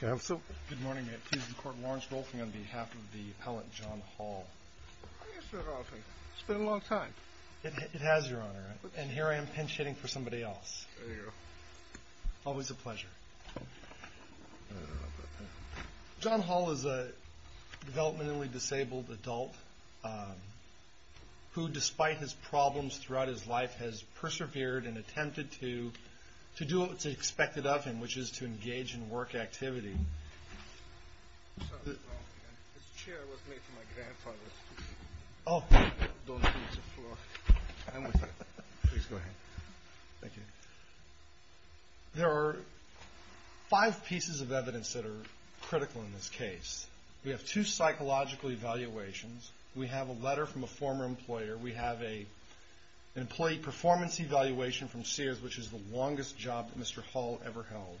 Good morning. I'm at Teeson Court, Lawrence Rolfing, on behalf of the appellant John Hall. It's been a long time. It has, Your Honor, and here I am pinch hitting for somebody else. There you go. Always a pleasure. John Hall is a developmentally disabled adult who, despite his problems throughout his life, has persevered and attempted to do what's expected of him, which is to engage in work activity. This chair was made for my grandfather. Oh. Don't use the floor. I'm with you. Please go ahead. Thank you. There are five pieces of evidence that are critical in this case. We have two psychological evaluations. We have a letter from a former employer. We have an employee performance evaluation from Sears, which is the longest job that Mr. Hall ever held.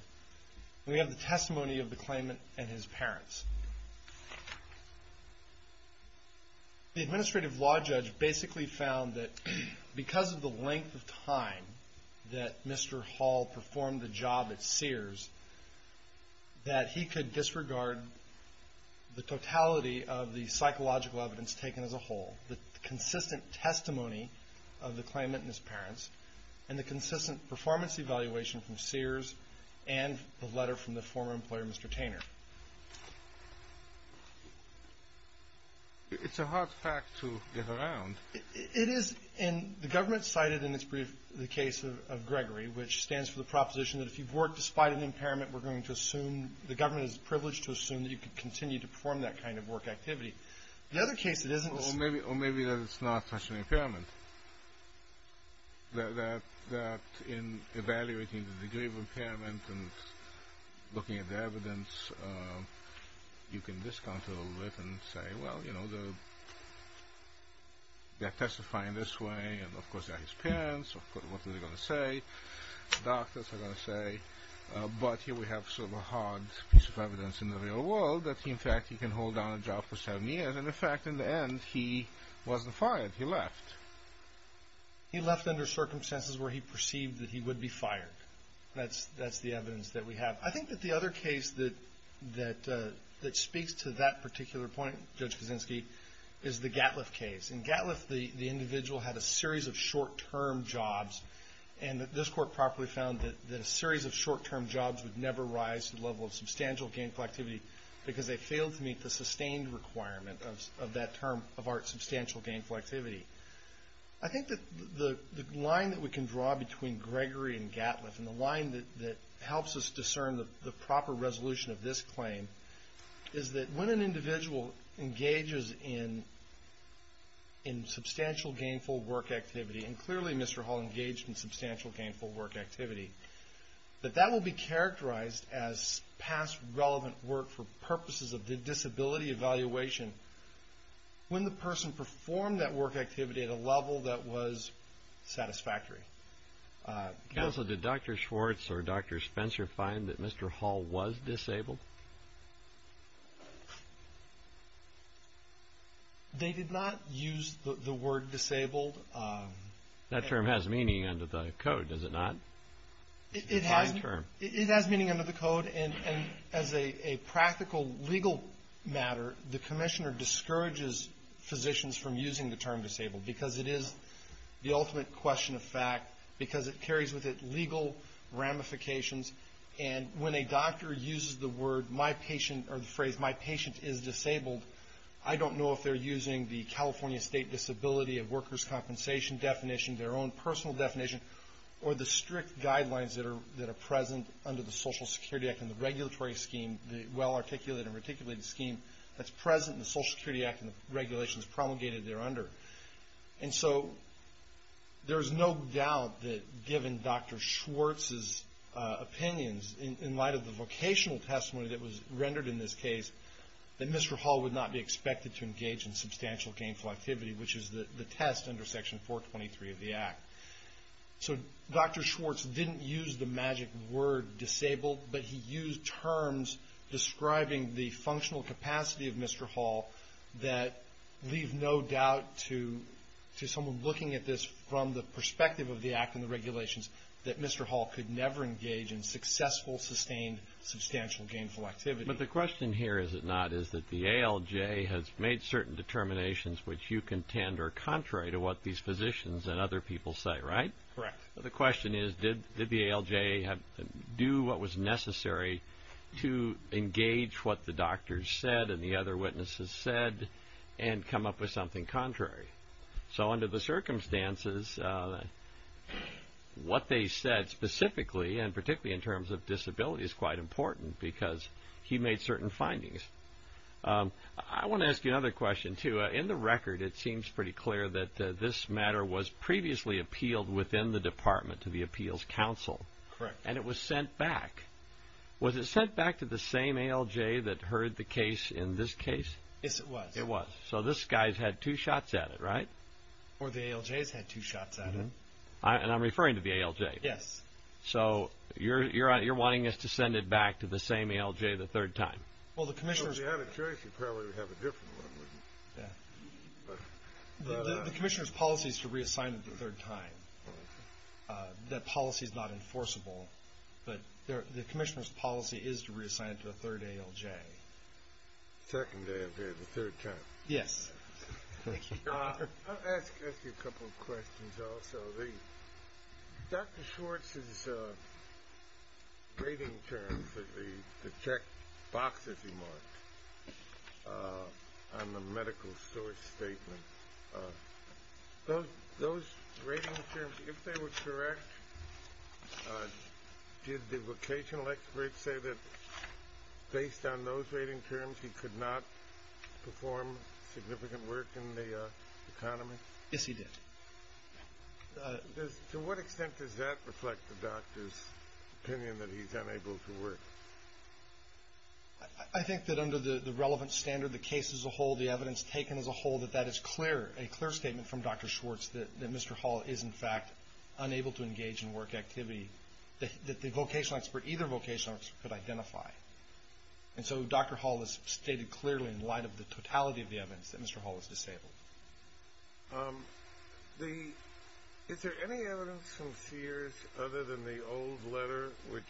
We have the testimony of the claimant and his parents. The administrative law judge basically found that because of the length of time that Mr. Hall performed the job at Sears, that he could disregard the totality of the psychological evidence taken as a whole, the consistent testimony of the claimant and his parents, and the consistent performance evaluation from Sears and the letter from the former employer, Mr. Tainer. It's a hard fact to get around. It is. And the government cited in its brief the case of Gregory, which stands for the proposition that if you've worked despite an impairment, we're going to assume the government is privileged to assume that you can continue to perform that kind of work activity. Or maybe that it's not such an impairment, that in evaluating the degree of impairment and looking at the evidence, you can discount it a little bit and say, well, you know, they're testifying this way, and of course they're his parents, so what are they going to say? The doctors are going to say, but here we have sort of a hard piece of evidence in the real world that, in fact, he can hold on a job for seven years, and, in fact, in the end, he wasn't fired. He left. He left under circumstances where he perceived that he would be fired. That's the evidence that we have. I think that the other case that speaks to that particular point, Judge Kaczynski, is the Gatliff case. In Gatliff, the individual had a series of short-term jobs, and this court properly found that a series of short-term jobs would never rise to the level of substantial gainful activity because they failed to meet the sustained requirement of that term of art, substantial gainful activity. I think that the line that we can draw between Gregory and Gatliff and the line that helps us discern the proper resolution of this claim is that when an individual engages in substantial gainful work activity, and clearly Mr. Hall engaged in substantial gainful work activity, that that will be characterized as past relevant work for purposes of disability evaluation when the person performed that work activity at a level that was satisfactory. Counsel, did Dr. Schwartz or Dr. Spencer find that Mr. Hall was disabled? They did not use the word disabled. That term has meaning under the code, does it not? It has meaning under the code, and as a practical legal matter, the commissioner discourages physicians from using the term disabled because it is the ultimate question of fact, because it carries with it legal ramifications, and when a doctor uses the phrase, my patient is disabled, I don't know if they're using the California State Disability of Workers' Compensation definition, their own personal definition, or the strict guidelines that are present under the Social Security Act and the regulatory scheme, the well-articulated and reticulated scheme that's present in the Social Security Act and the regulations promulgated thereunder. And so there is no doubt that given Dr. Schwartz's opinions in light of the vocational testimony that was rendered in this case, that Mr. Hall would not be expected to engage in substantial gainful activity, which is the test under Section 423 of the Act. So Dr. Schwartz didn't use the magic word disabled, but he used terms describing the functional capacity of Mr. Hall that leave no doubt to someone looking at this from the perspective of the Act and the regulations that Mr. Hall could never engage in successful, sustained, substantial gainful activity. But the question here, is it not, is that the ALJ has made certain determinations which you contend are contrary to what these physicians and other people say, right? Correct. The question is, did the ALJ do what was necessary to engage what the doctors said and the other witnesses said and come up with something contrary? So under the circumstances, what they said specifically, and particularly in terms of disability, is quite important because he made certain findings. I want to ask you another question, too. In the record, it seems pretty clear that this matter was previously appealed within the Department to the Appeals Council. Correct. And it was sent back. Was it sent back to the same ALJ that heard the case in this case? Yes, it was. It was. So this guy's had two shots at it, right? Or the ALJ's had two shots at him. And I'm referring to the ALJ. Yes. So you're wanting us to send it back to the same ALJ the third time. Well, if you had a choice, you'd probably have a different one, wouldn't you? Yeah. The commissioner's policy is to reassign it the third time. That policy is not enforceable. But the commissioner's policy is to reassign it to a third ALJ. Second ALJ the third time. Yes. Thank you. I'll ask you a couple of questions also. Dr. Schwartz's rating terms, the checkboxes he marked on the medical source statement, those rating terms, if they were correct, did the vocational experts say that based on those rating terms he could not perform significant work in the economy? Yes, he did. To what extent does that reflect the doctor's opinion that he's unable to work? I think that under the relevant standard, the case as a whole, the evidence taken as a whole, that that is clear, a clear statement from Dr. Schwartz that Mr. Hall is, in fact, unable to engage in work activity that the vocational expert, either vocational expert, could identify. And so Dr. Hall has stated clearly, in light of the totality of the evidence, that Mr. Hall is disabled. Is there any evidence from Sears, other than the old letter, which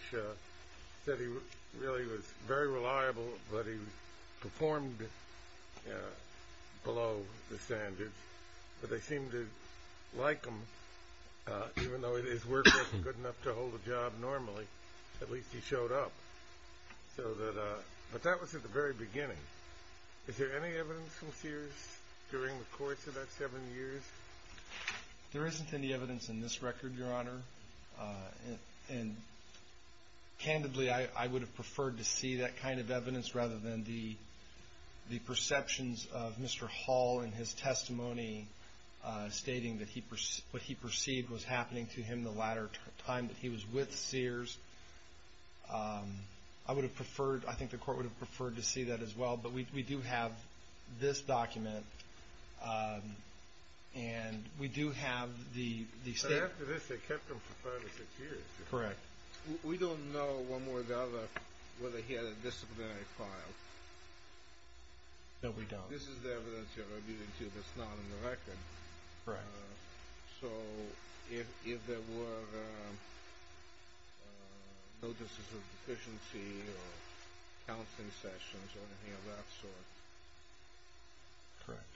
said he really was very reliable, but he performed below the standards, but they seemed to like him, even though his work wasn't good enough to hold a job normally, at least he showed up. But that was at the very beginning. Is there any evidence from Sears during the course of that seven years? There isn't any evidence in this record, Your Honor. And candidly, I would have preferred to see that kind of evidence rather than the perceptions of Mr. Hall in his testimony stating that what he perceived was happening to him the latter time that he was with Sears. I would have preferred, I think the Court would have preferred to see that as well. But we do have this document, and we do have the statement. But after this, they kept him for five or six years. Correct. We don't know, one way or the other, whether he had a disciplinary file. No, we don't. This is the evidence you're rebutting to that's not in the record. Right. So if there were notices of deficiency or counseling sessions or anything of that sort. Correct.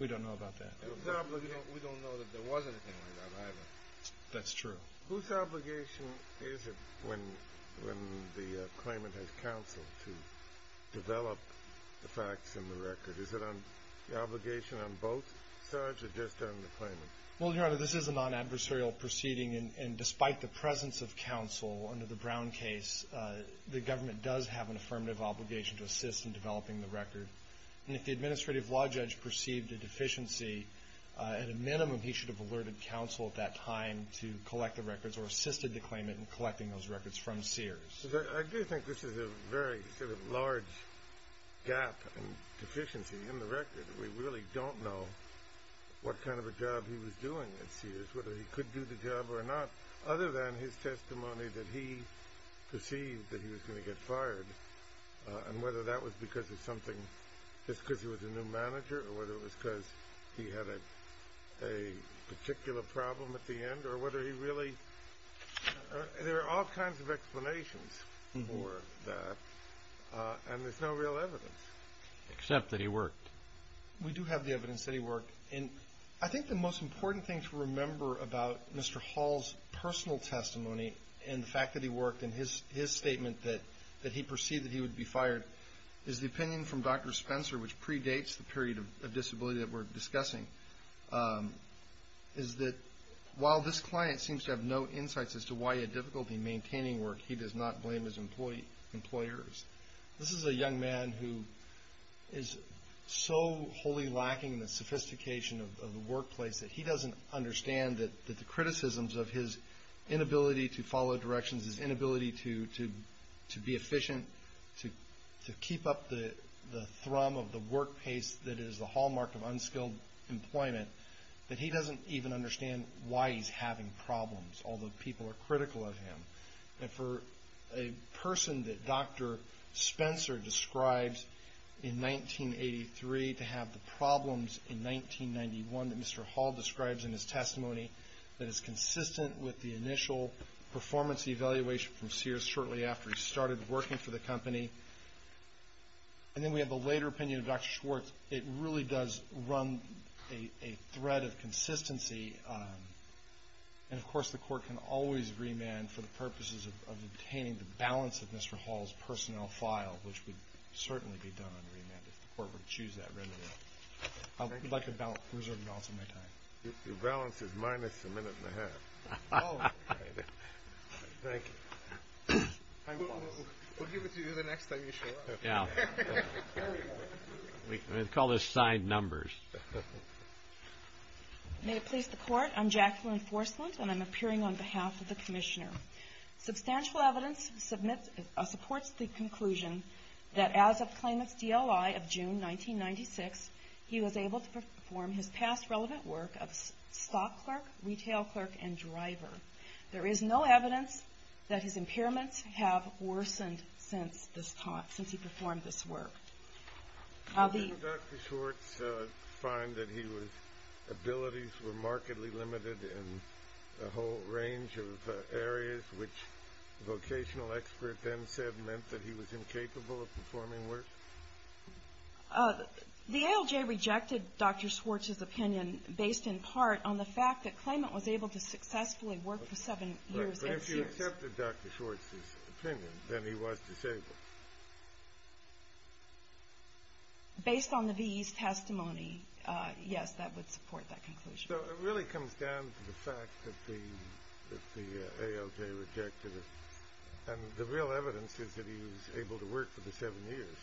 We don't know about that. We don't know that there was anything like that either. That's true. Whose obligation is it when the claimant has counsel to develop the facts in the record? Is it an obligation on both sides or just on the claimant? Well, Your Honor, this is a non-adversarial proceeding, and despite the presence of counsel under the Brown case, the government does have an affirmative obligation to assist in developing the record. And if the administrative law judge perceived a deficiency, at a minimum, he should have alerted counsel at that time to collect the records or assisted the claimant in collecting those records from Sears. I do think this is a very sort of large gap and deficiency in the record. We really don't know what kind of a job he was doing at Sears, whether he could do the job or not, other than his testimony that he perceived that he was going to get fired and whether that was because of something, just because he was a new manager or whether it was because he had a particular problem at the end or whether he really – there are all kinds of explanations for that, and there's no real evidence. Except that he worked. We do have the evidence that he worked. And I think the most important thing to remember about Mr. Hall's personal testimony and the fact that he worked and his statement that he perceived that he would be fired is the opinion from Dr. Spencer, which predates the period of disability that we're discussing, is that while this client seems to have no insights as to why he had difficulty maintaining work, he does not blame his employers. This is a young man who is so wholly lacking in the sophistication of the workplace that he doesn't understand that the criticisms of his inability to follow directions, his inability to be efficient, to keep up the thrum of the work pace that is the hallmark of unskilled employment, that he doesn't even understand why he's having problems, although people are critical of him. And for a person that Dr. Spencer describes in 1983 to have the problems in 1991 that Mr. Hall describes in his testimony, that is consistent with the initial performance evaluation from Sears shortly after he started working for the company. And then we have the later opinion of Dr. Schwartz. It really does run a thread of consistency. And, of course, the court can always remand for the purposes of obtaining the balance of Mr. Hall's personnel file, which would certainly be done under remand if the court were to choose that remedy. I would like to reserve the balance of my time. Your balance is minus a minute and a half. Oh. Thank you. We'll give it to you the next time you show up. Yeah. We call this signed numbers. May it please the court. I'm Jacqueline Forslund, and I'm appearing on behalf of the commissioner. Substantial evidence supports the conclusion that as of claimant's DOI of June 1996, he was able to perform his past relevant work of stock clerk, retail clerk, and driver. There is no evidence that his impairments have worsened since he performed this work. Did Dr. Schwartz find that his abilities were markedly limited in a whole range of areas, which a vocational expert then said meant that he was incapable of performing work? The ALJ rejected Dr. Schwartz's opinion based in part on the fact that claimant was able to successfully work for seven years. But if you accepted Dr. Schwartz's opinion, then he was disabled. Based on the VE's testimony, yes, that would support that conclusion. So it really comes down to the fact that the ALJ rejected it. And the real evidence is that he was able to work for the seven years.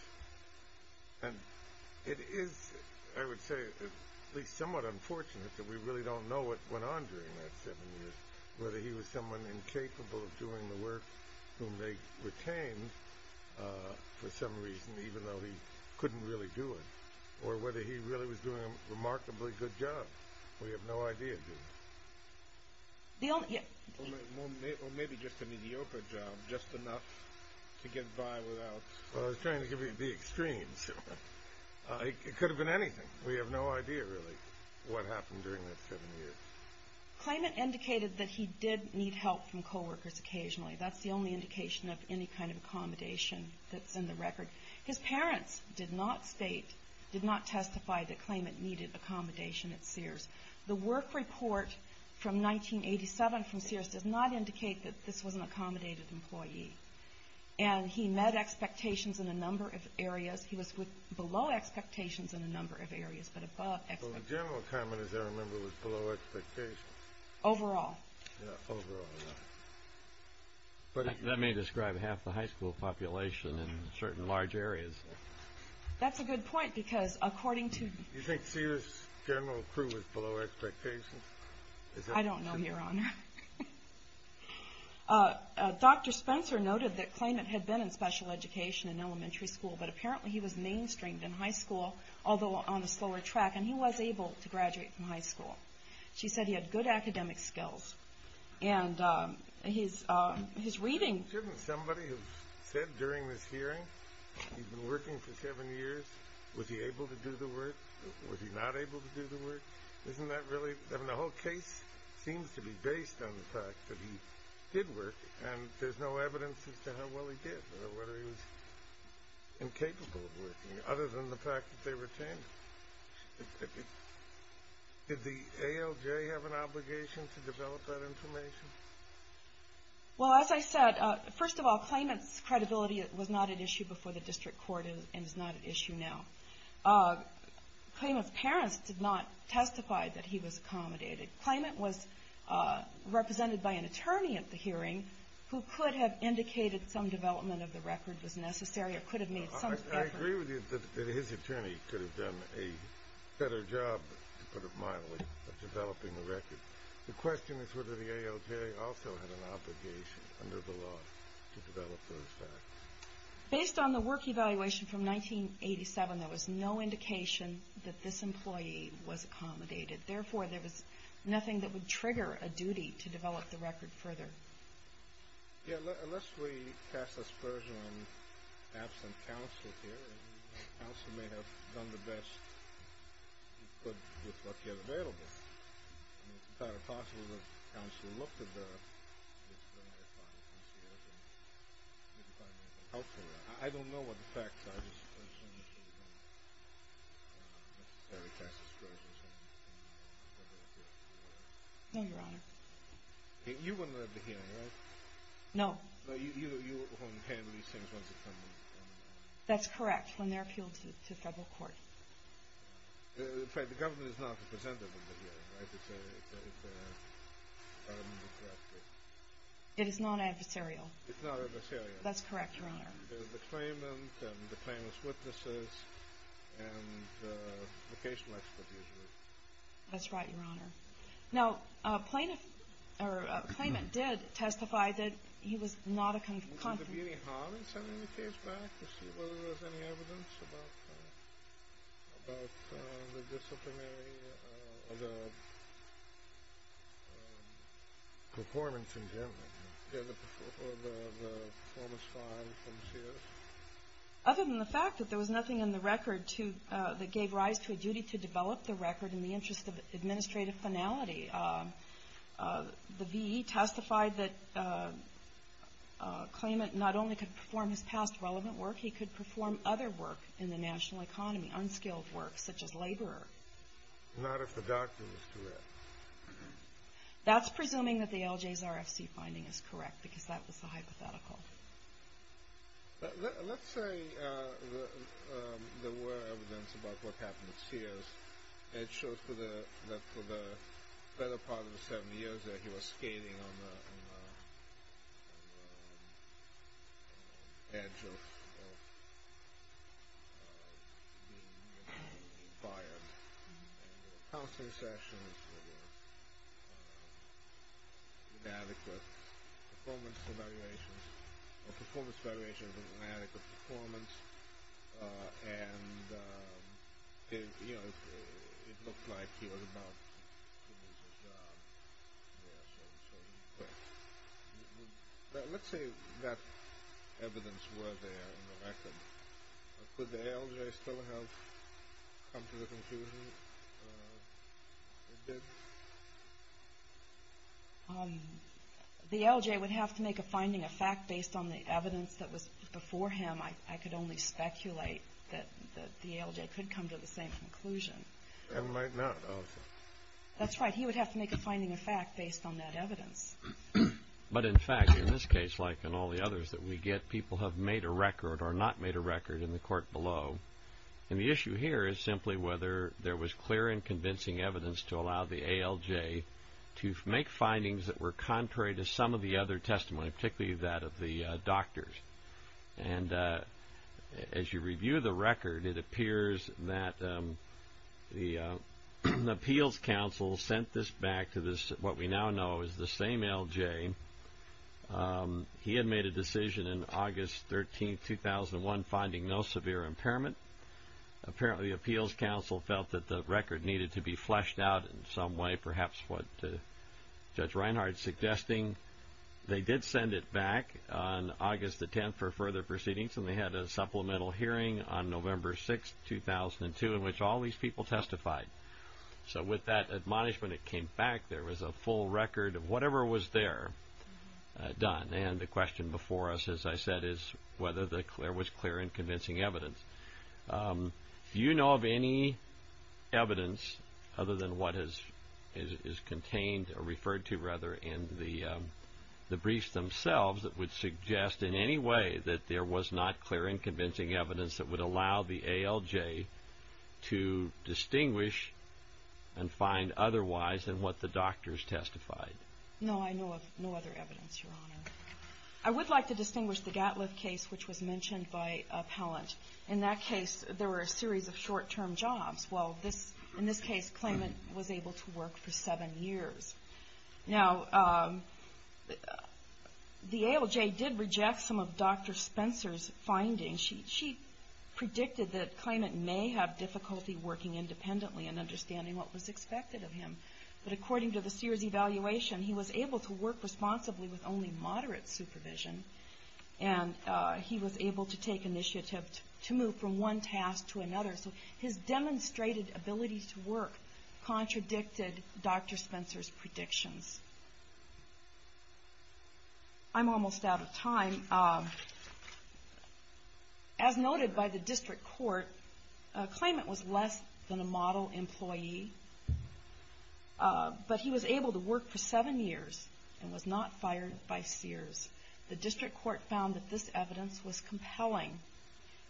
And it is, I would say, at least somewhat unfortunate that we really don't know what went on during that seven years, whether he was someone incapable of doing the work whom they retained for some reason, even though he couldn't really do it, or whether he really was doing a remarkably good job. We have no idea, do we? Or maybe just an idiocra job, just enough to get by without... Well, I was trying to give you the extremes. It could have been anything. We have no idea, really, what happened during that seven years. Claimant indicated that he did need help from co-workers occasionally. That's the only indication of any kind of accommodation that's in the record. His parents did not state, did not testify that claimant needed accommodation at Sears. The work report from 1987 from Sears does not indicate that this was an accommodated employee. And he met expectations in a number of areas. He was below expectations in a number of areas, but above expectations. Well, the general comment, as I remember, was below expectations. Overall. Yeah, overall, yeah. That may describe half the high school population in certain large areas. That's a good point, because according to... You think Sears' general crew was below expectations? I don't know, Your Honor. Dr. Spencer noted that claimant had been in special education in elementary school, but apparently he was mainstreamed in high school, although on a slower track, and he was able to graduate from high school. She said he had good academic skills. And his reading... Shouldn't somebody have said during this hearing, he'd been working for seven years, was he able to do the work? Was he not able to do the work? Isn't that really... I mean, the whole case seems to be based on the fact that he did work, and there's no evidence as to how well he did, or whether he was incapable of working, other than the fact that they retained him. Did the ALJ have an obligation to develop that information? Well, as I said, first of all, claimant's credibility was not at issue before the district court and is not at issue now. Claimant's parents did not testify that he was accommodated. Claimant was represented by an attorney at the hearing who could have indicated some development of the record was necessary or could have made some effort. I agree with you that his attorney could have done a better job, to put it mildly, of developing the record. The question is whether the ALJ also had an obligation under the law to develop those facts. Based on the work evaluation from 1987, there was no indication that this employee was accommodated. Therefore, there was nothing that would trigger a duty to develop the record further. Yeah, unless we cast a spurs on absent counsel here, the counsel may have done the best he could with what he had available. It's entirely possible that the counsel looked at the history of their father and see if there was anything helpful there. I don't know what the facts are. I'm just assuming she didn't necessarily cast a spurs on something she didn't want to do. No, Your Honor. You were not at the hearing, right? No. So you won't handle these things once they come to you? That's correct, when they're appealed to federal court. In fact, the government is not represented in the hearing, right? It's a... It is non-adversarial. It's not adversarial. That's correct, Your Honor. The claimant and the claimant's witnesses and the vocational expert usually. That's right, Your Honor. Now, a claimant did testify that he was not a... Did you go to the beauty hall and send the case back to see whether there was any evidence about the disciplinary, the performance in general, or the performance file from Sears? Other than the fact that there was nothing in the record that gave rise to a duty to develop the record in the interest of administrative finality. The V.E. testified that a claimant not only could perform his past relevant work, he could perform other work in the national economy, unskilled work, such as labor. Not if the doctor was correct. That's presuming that the LJ's RFC finding is correct, because that was the hypothetical. Let's say there were evidence about what happened at Sears. It shows that for the better part of the seven years there, he was skating on the edge of being fired. Counseling sessions were inadequate. Performance evaluations were inadequate. It looked like he was about to lose his job. Let's say that evidence were there in the record. Could the LJ still have come to the conclusion it did? The LJ would have to make a finding of fact based on the evidence that was before him. I could only speculate that the LJ could come to the same conclusion. That's right. He would have to make a finding of fact based on that evidence. But in fact, in this case, like in all the others that we get, people have made a record or not made a record in the court below. And the issue here is simply whether there was clear and convincing evidence to allow the ALJ to make findings that were contrary to some of the other testimony, particularly that of the doctors. And as you review the record, it appears that the appeals counsel sent this back to what we now know is the same LJ. He had made a decision in August 13, 2001, finding no severe impairment. Apparently the appeals counsel felt that the record needed to be fleshed out in some way, perhaps what Judge Reinhart is suggesting. They did send it back on August 10 for further proceedings, and they had a supplemental hearing on November 6, 2002, in which all these people testified. So with that admonishment, it came back. There was a full record of whatever was there done. And the question before us, as I said, is whether there was clear and convincing evidence. Do you know of any evidence other than what is contained or referred to, rather, in the briefs themselves that would suggest in any way that there was not clear and convincing evidence that would allow the ALJ to distinguish and find otherwise than what the doctors testified? No, I know of no other evidence, Your Honor. I would like to distinguish the Gatliff case, which was mentioned by appellant. In that case, there were a series of short-term jobs. Well, in this case, Klayment was able to work for seven years. Now, the ALJ did reject some of Dr. Spencer's findings. She predicted that Klayment may have difficulty working independently and understanding what was expected of him. But according to the Sears evaluation, he was able to work responsibly with only moderate supervision, and he was able to take initiative to move from one task to another. So his demonstrated ability to work contradicted Dr. Spencer's predictions. I'm almost out of time. As noted by the district court, Klayment was less than a model employee, but he was able to work for seven years and was not fired by Sears. The district court found that this evidence was compelling,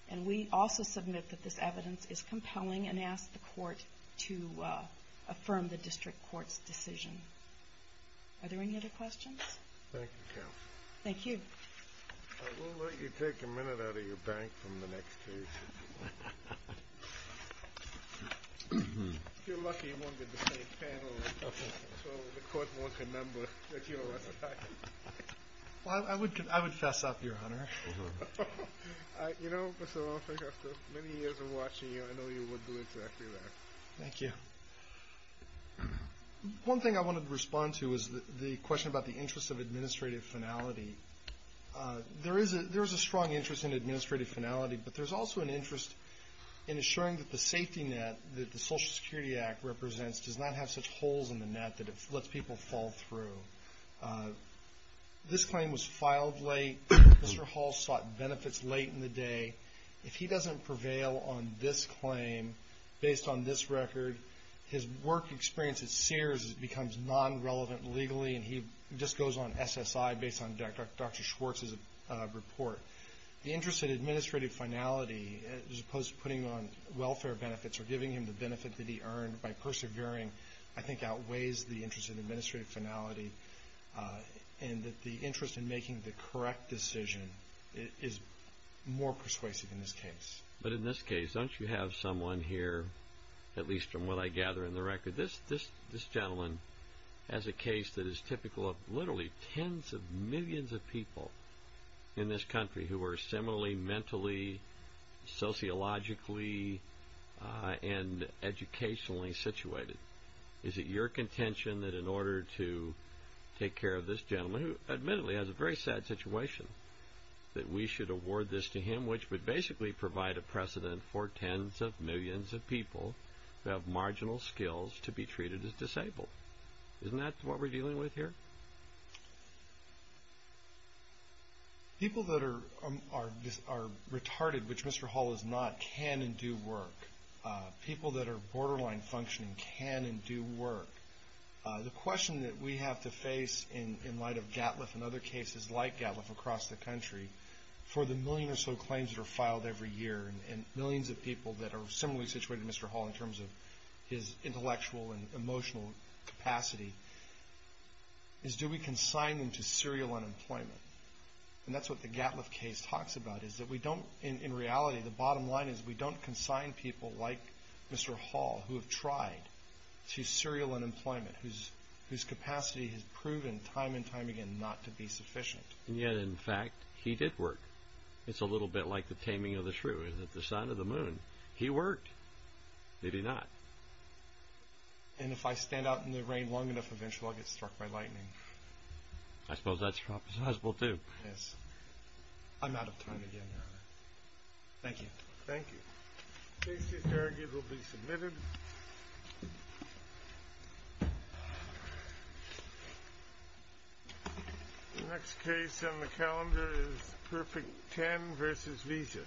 and we also submit that this evidence is compelling and ask the court to affirm the district court's decision. Are there any other questions? Thank you, counsel. Thank you. I will let you take a minute out of your bank from the next case. If you're lucky, you won't get the same panel, so the court won't remember that you were fired. Well, I would fess up, Your Honor. You know, Mr. Lawson, after many years of watching you, I know you would do exactly that. Thank you. One thing I wanted to respond to is the question about the interest of administrative finality. There is a strong interest in administrative finality, but there's also an interest in assuring that the safety net that the Social Security Act represents does not have such holes in the net that it lets people fall through. This claim was filed late. Mr. Hall sought benefits late in the day. If he doesn't prevail on this claim based on this record, his work experience at Sears becomes non-relevant legally, and he just goes on SSI based on Dr. Schwartz's report. The interest in administrative finality, as opposed to putting on welfare benefits or giving him the benefit that he earned by persevering, I think, outweighs the interest in administrative finality, and that the interest in making the correct decision is more persuasive in this case. But in this case, don't you have someone here, at least from what I gather in the record, this gentleman has a case that is typical of literally tens of millions of people in this country who are similarly mentally, sociologically, and educationally situated. Is it your contention that in order to take care of this gentleman, who admittedly has a very sad situation, that we should award this to him, which would basically provide a precedent for tens of millions of people who have marginal skills to be treated as disabled? Isn't that what we're dealing with here? People that are retarded, which Mr. Hall is not, can and do work. People that are borderline functioning can and do work. The question that we have to face in light of GATLF and other cases like GATLF across the country, for the million or so claims that are filed every year, and millions of people that are similarly situated to Mr. Hall in terms of his intellectual and emotional capacity, is do we consign them to serial unemployment? And that's what the GATLF case talks about, is that in reality the bottom line is we don't consign people like Mr. Hall, who have tried, to serial unemployment, whose capacity has proven time and time again not to be sufficient. And yet, in fact, he did work. It's a little bit like the taming of the shrew. Is it the sun or the moon? He worked. Did he not? And if I stand out in the rain long enough, eventually I'll get struck by lightning. I suppose that's possible too. I'm out of time again, Your Honor. Thank you. Thank you. The case is arguably submitted. The next case on the calendar is Perfect Ten v. Visa. Thank you.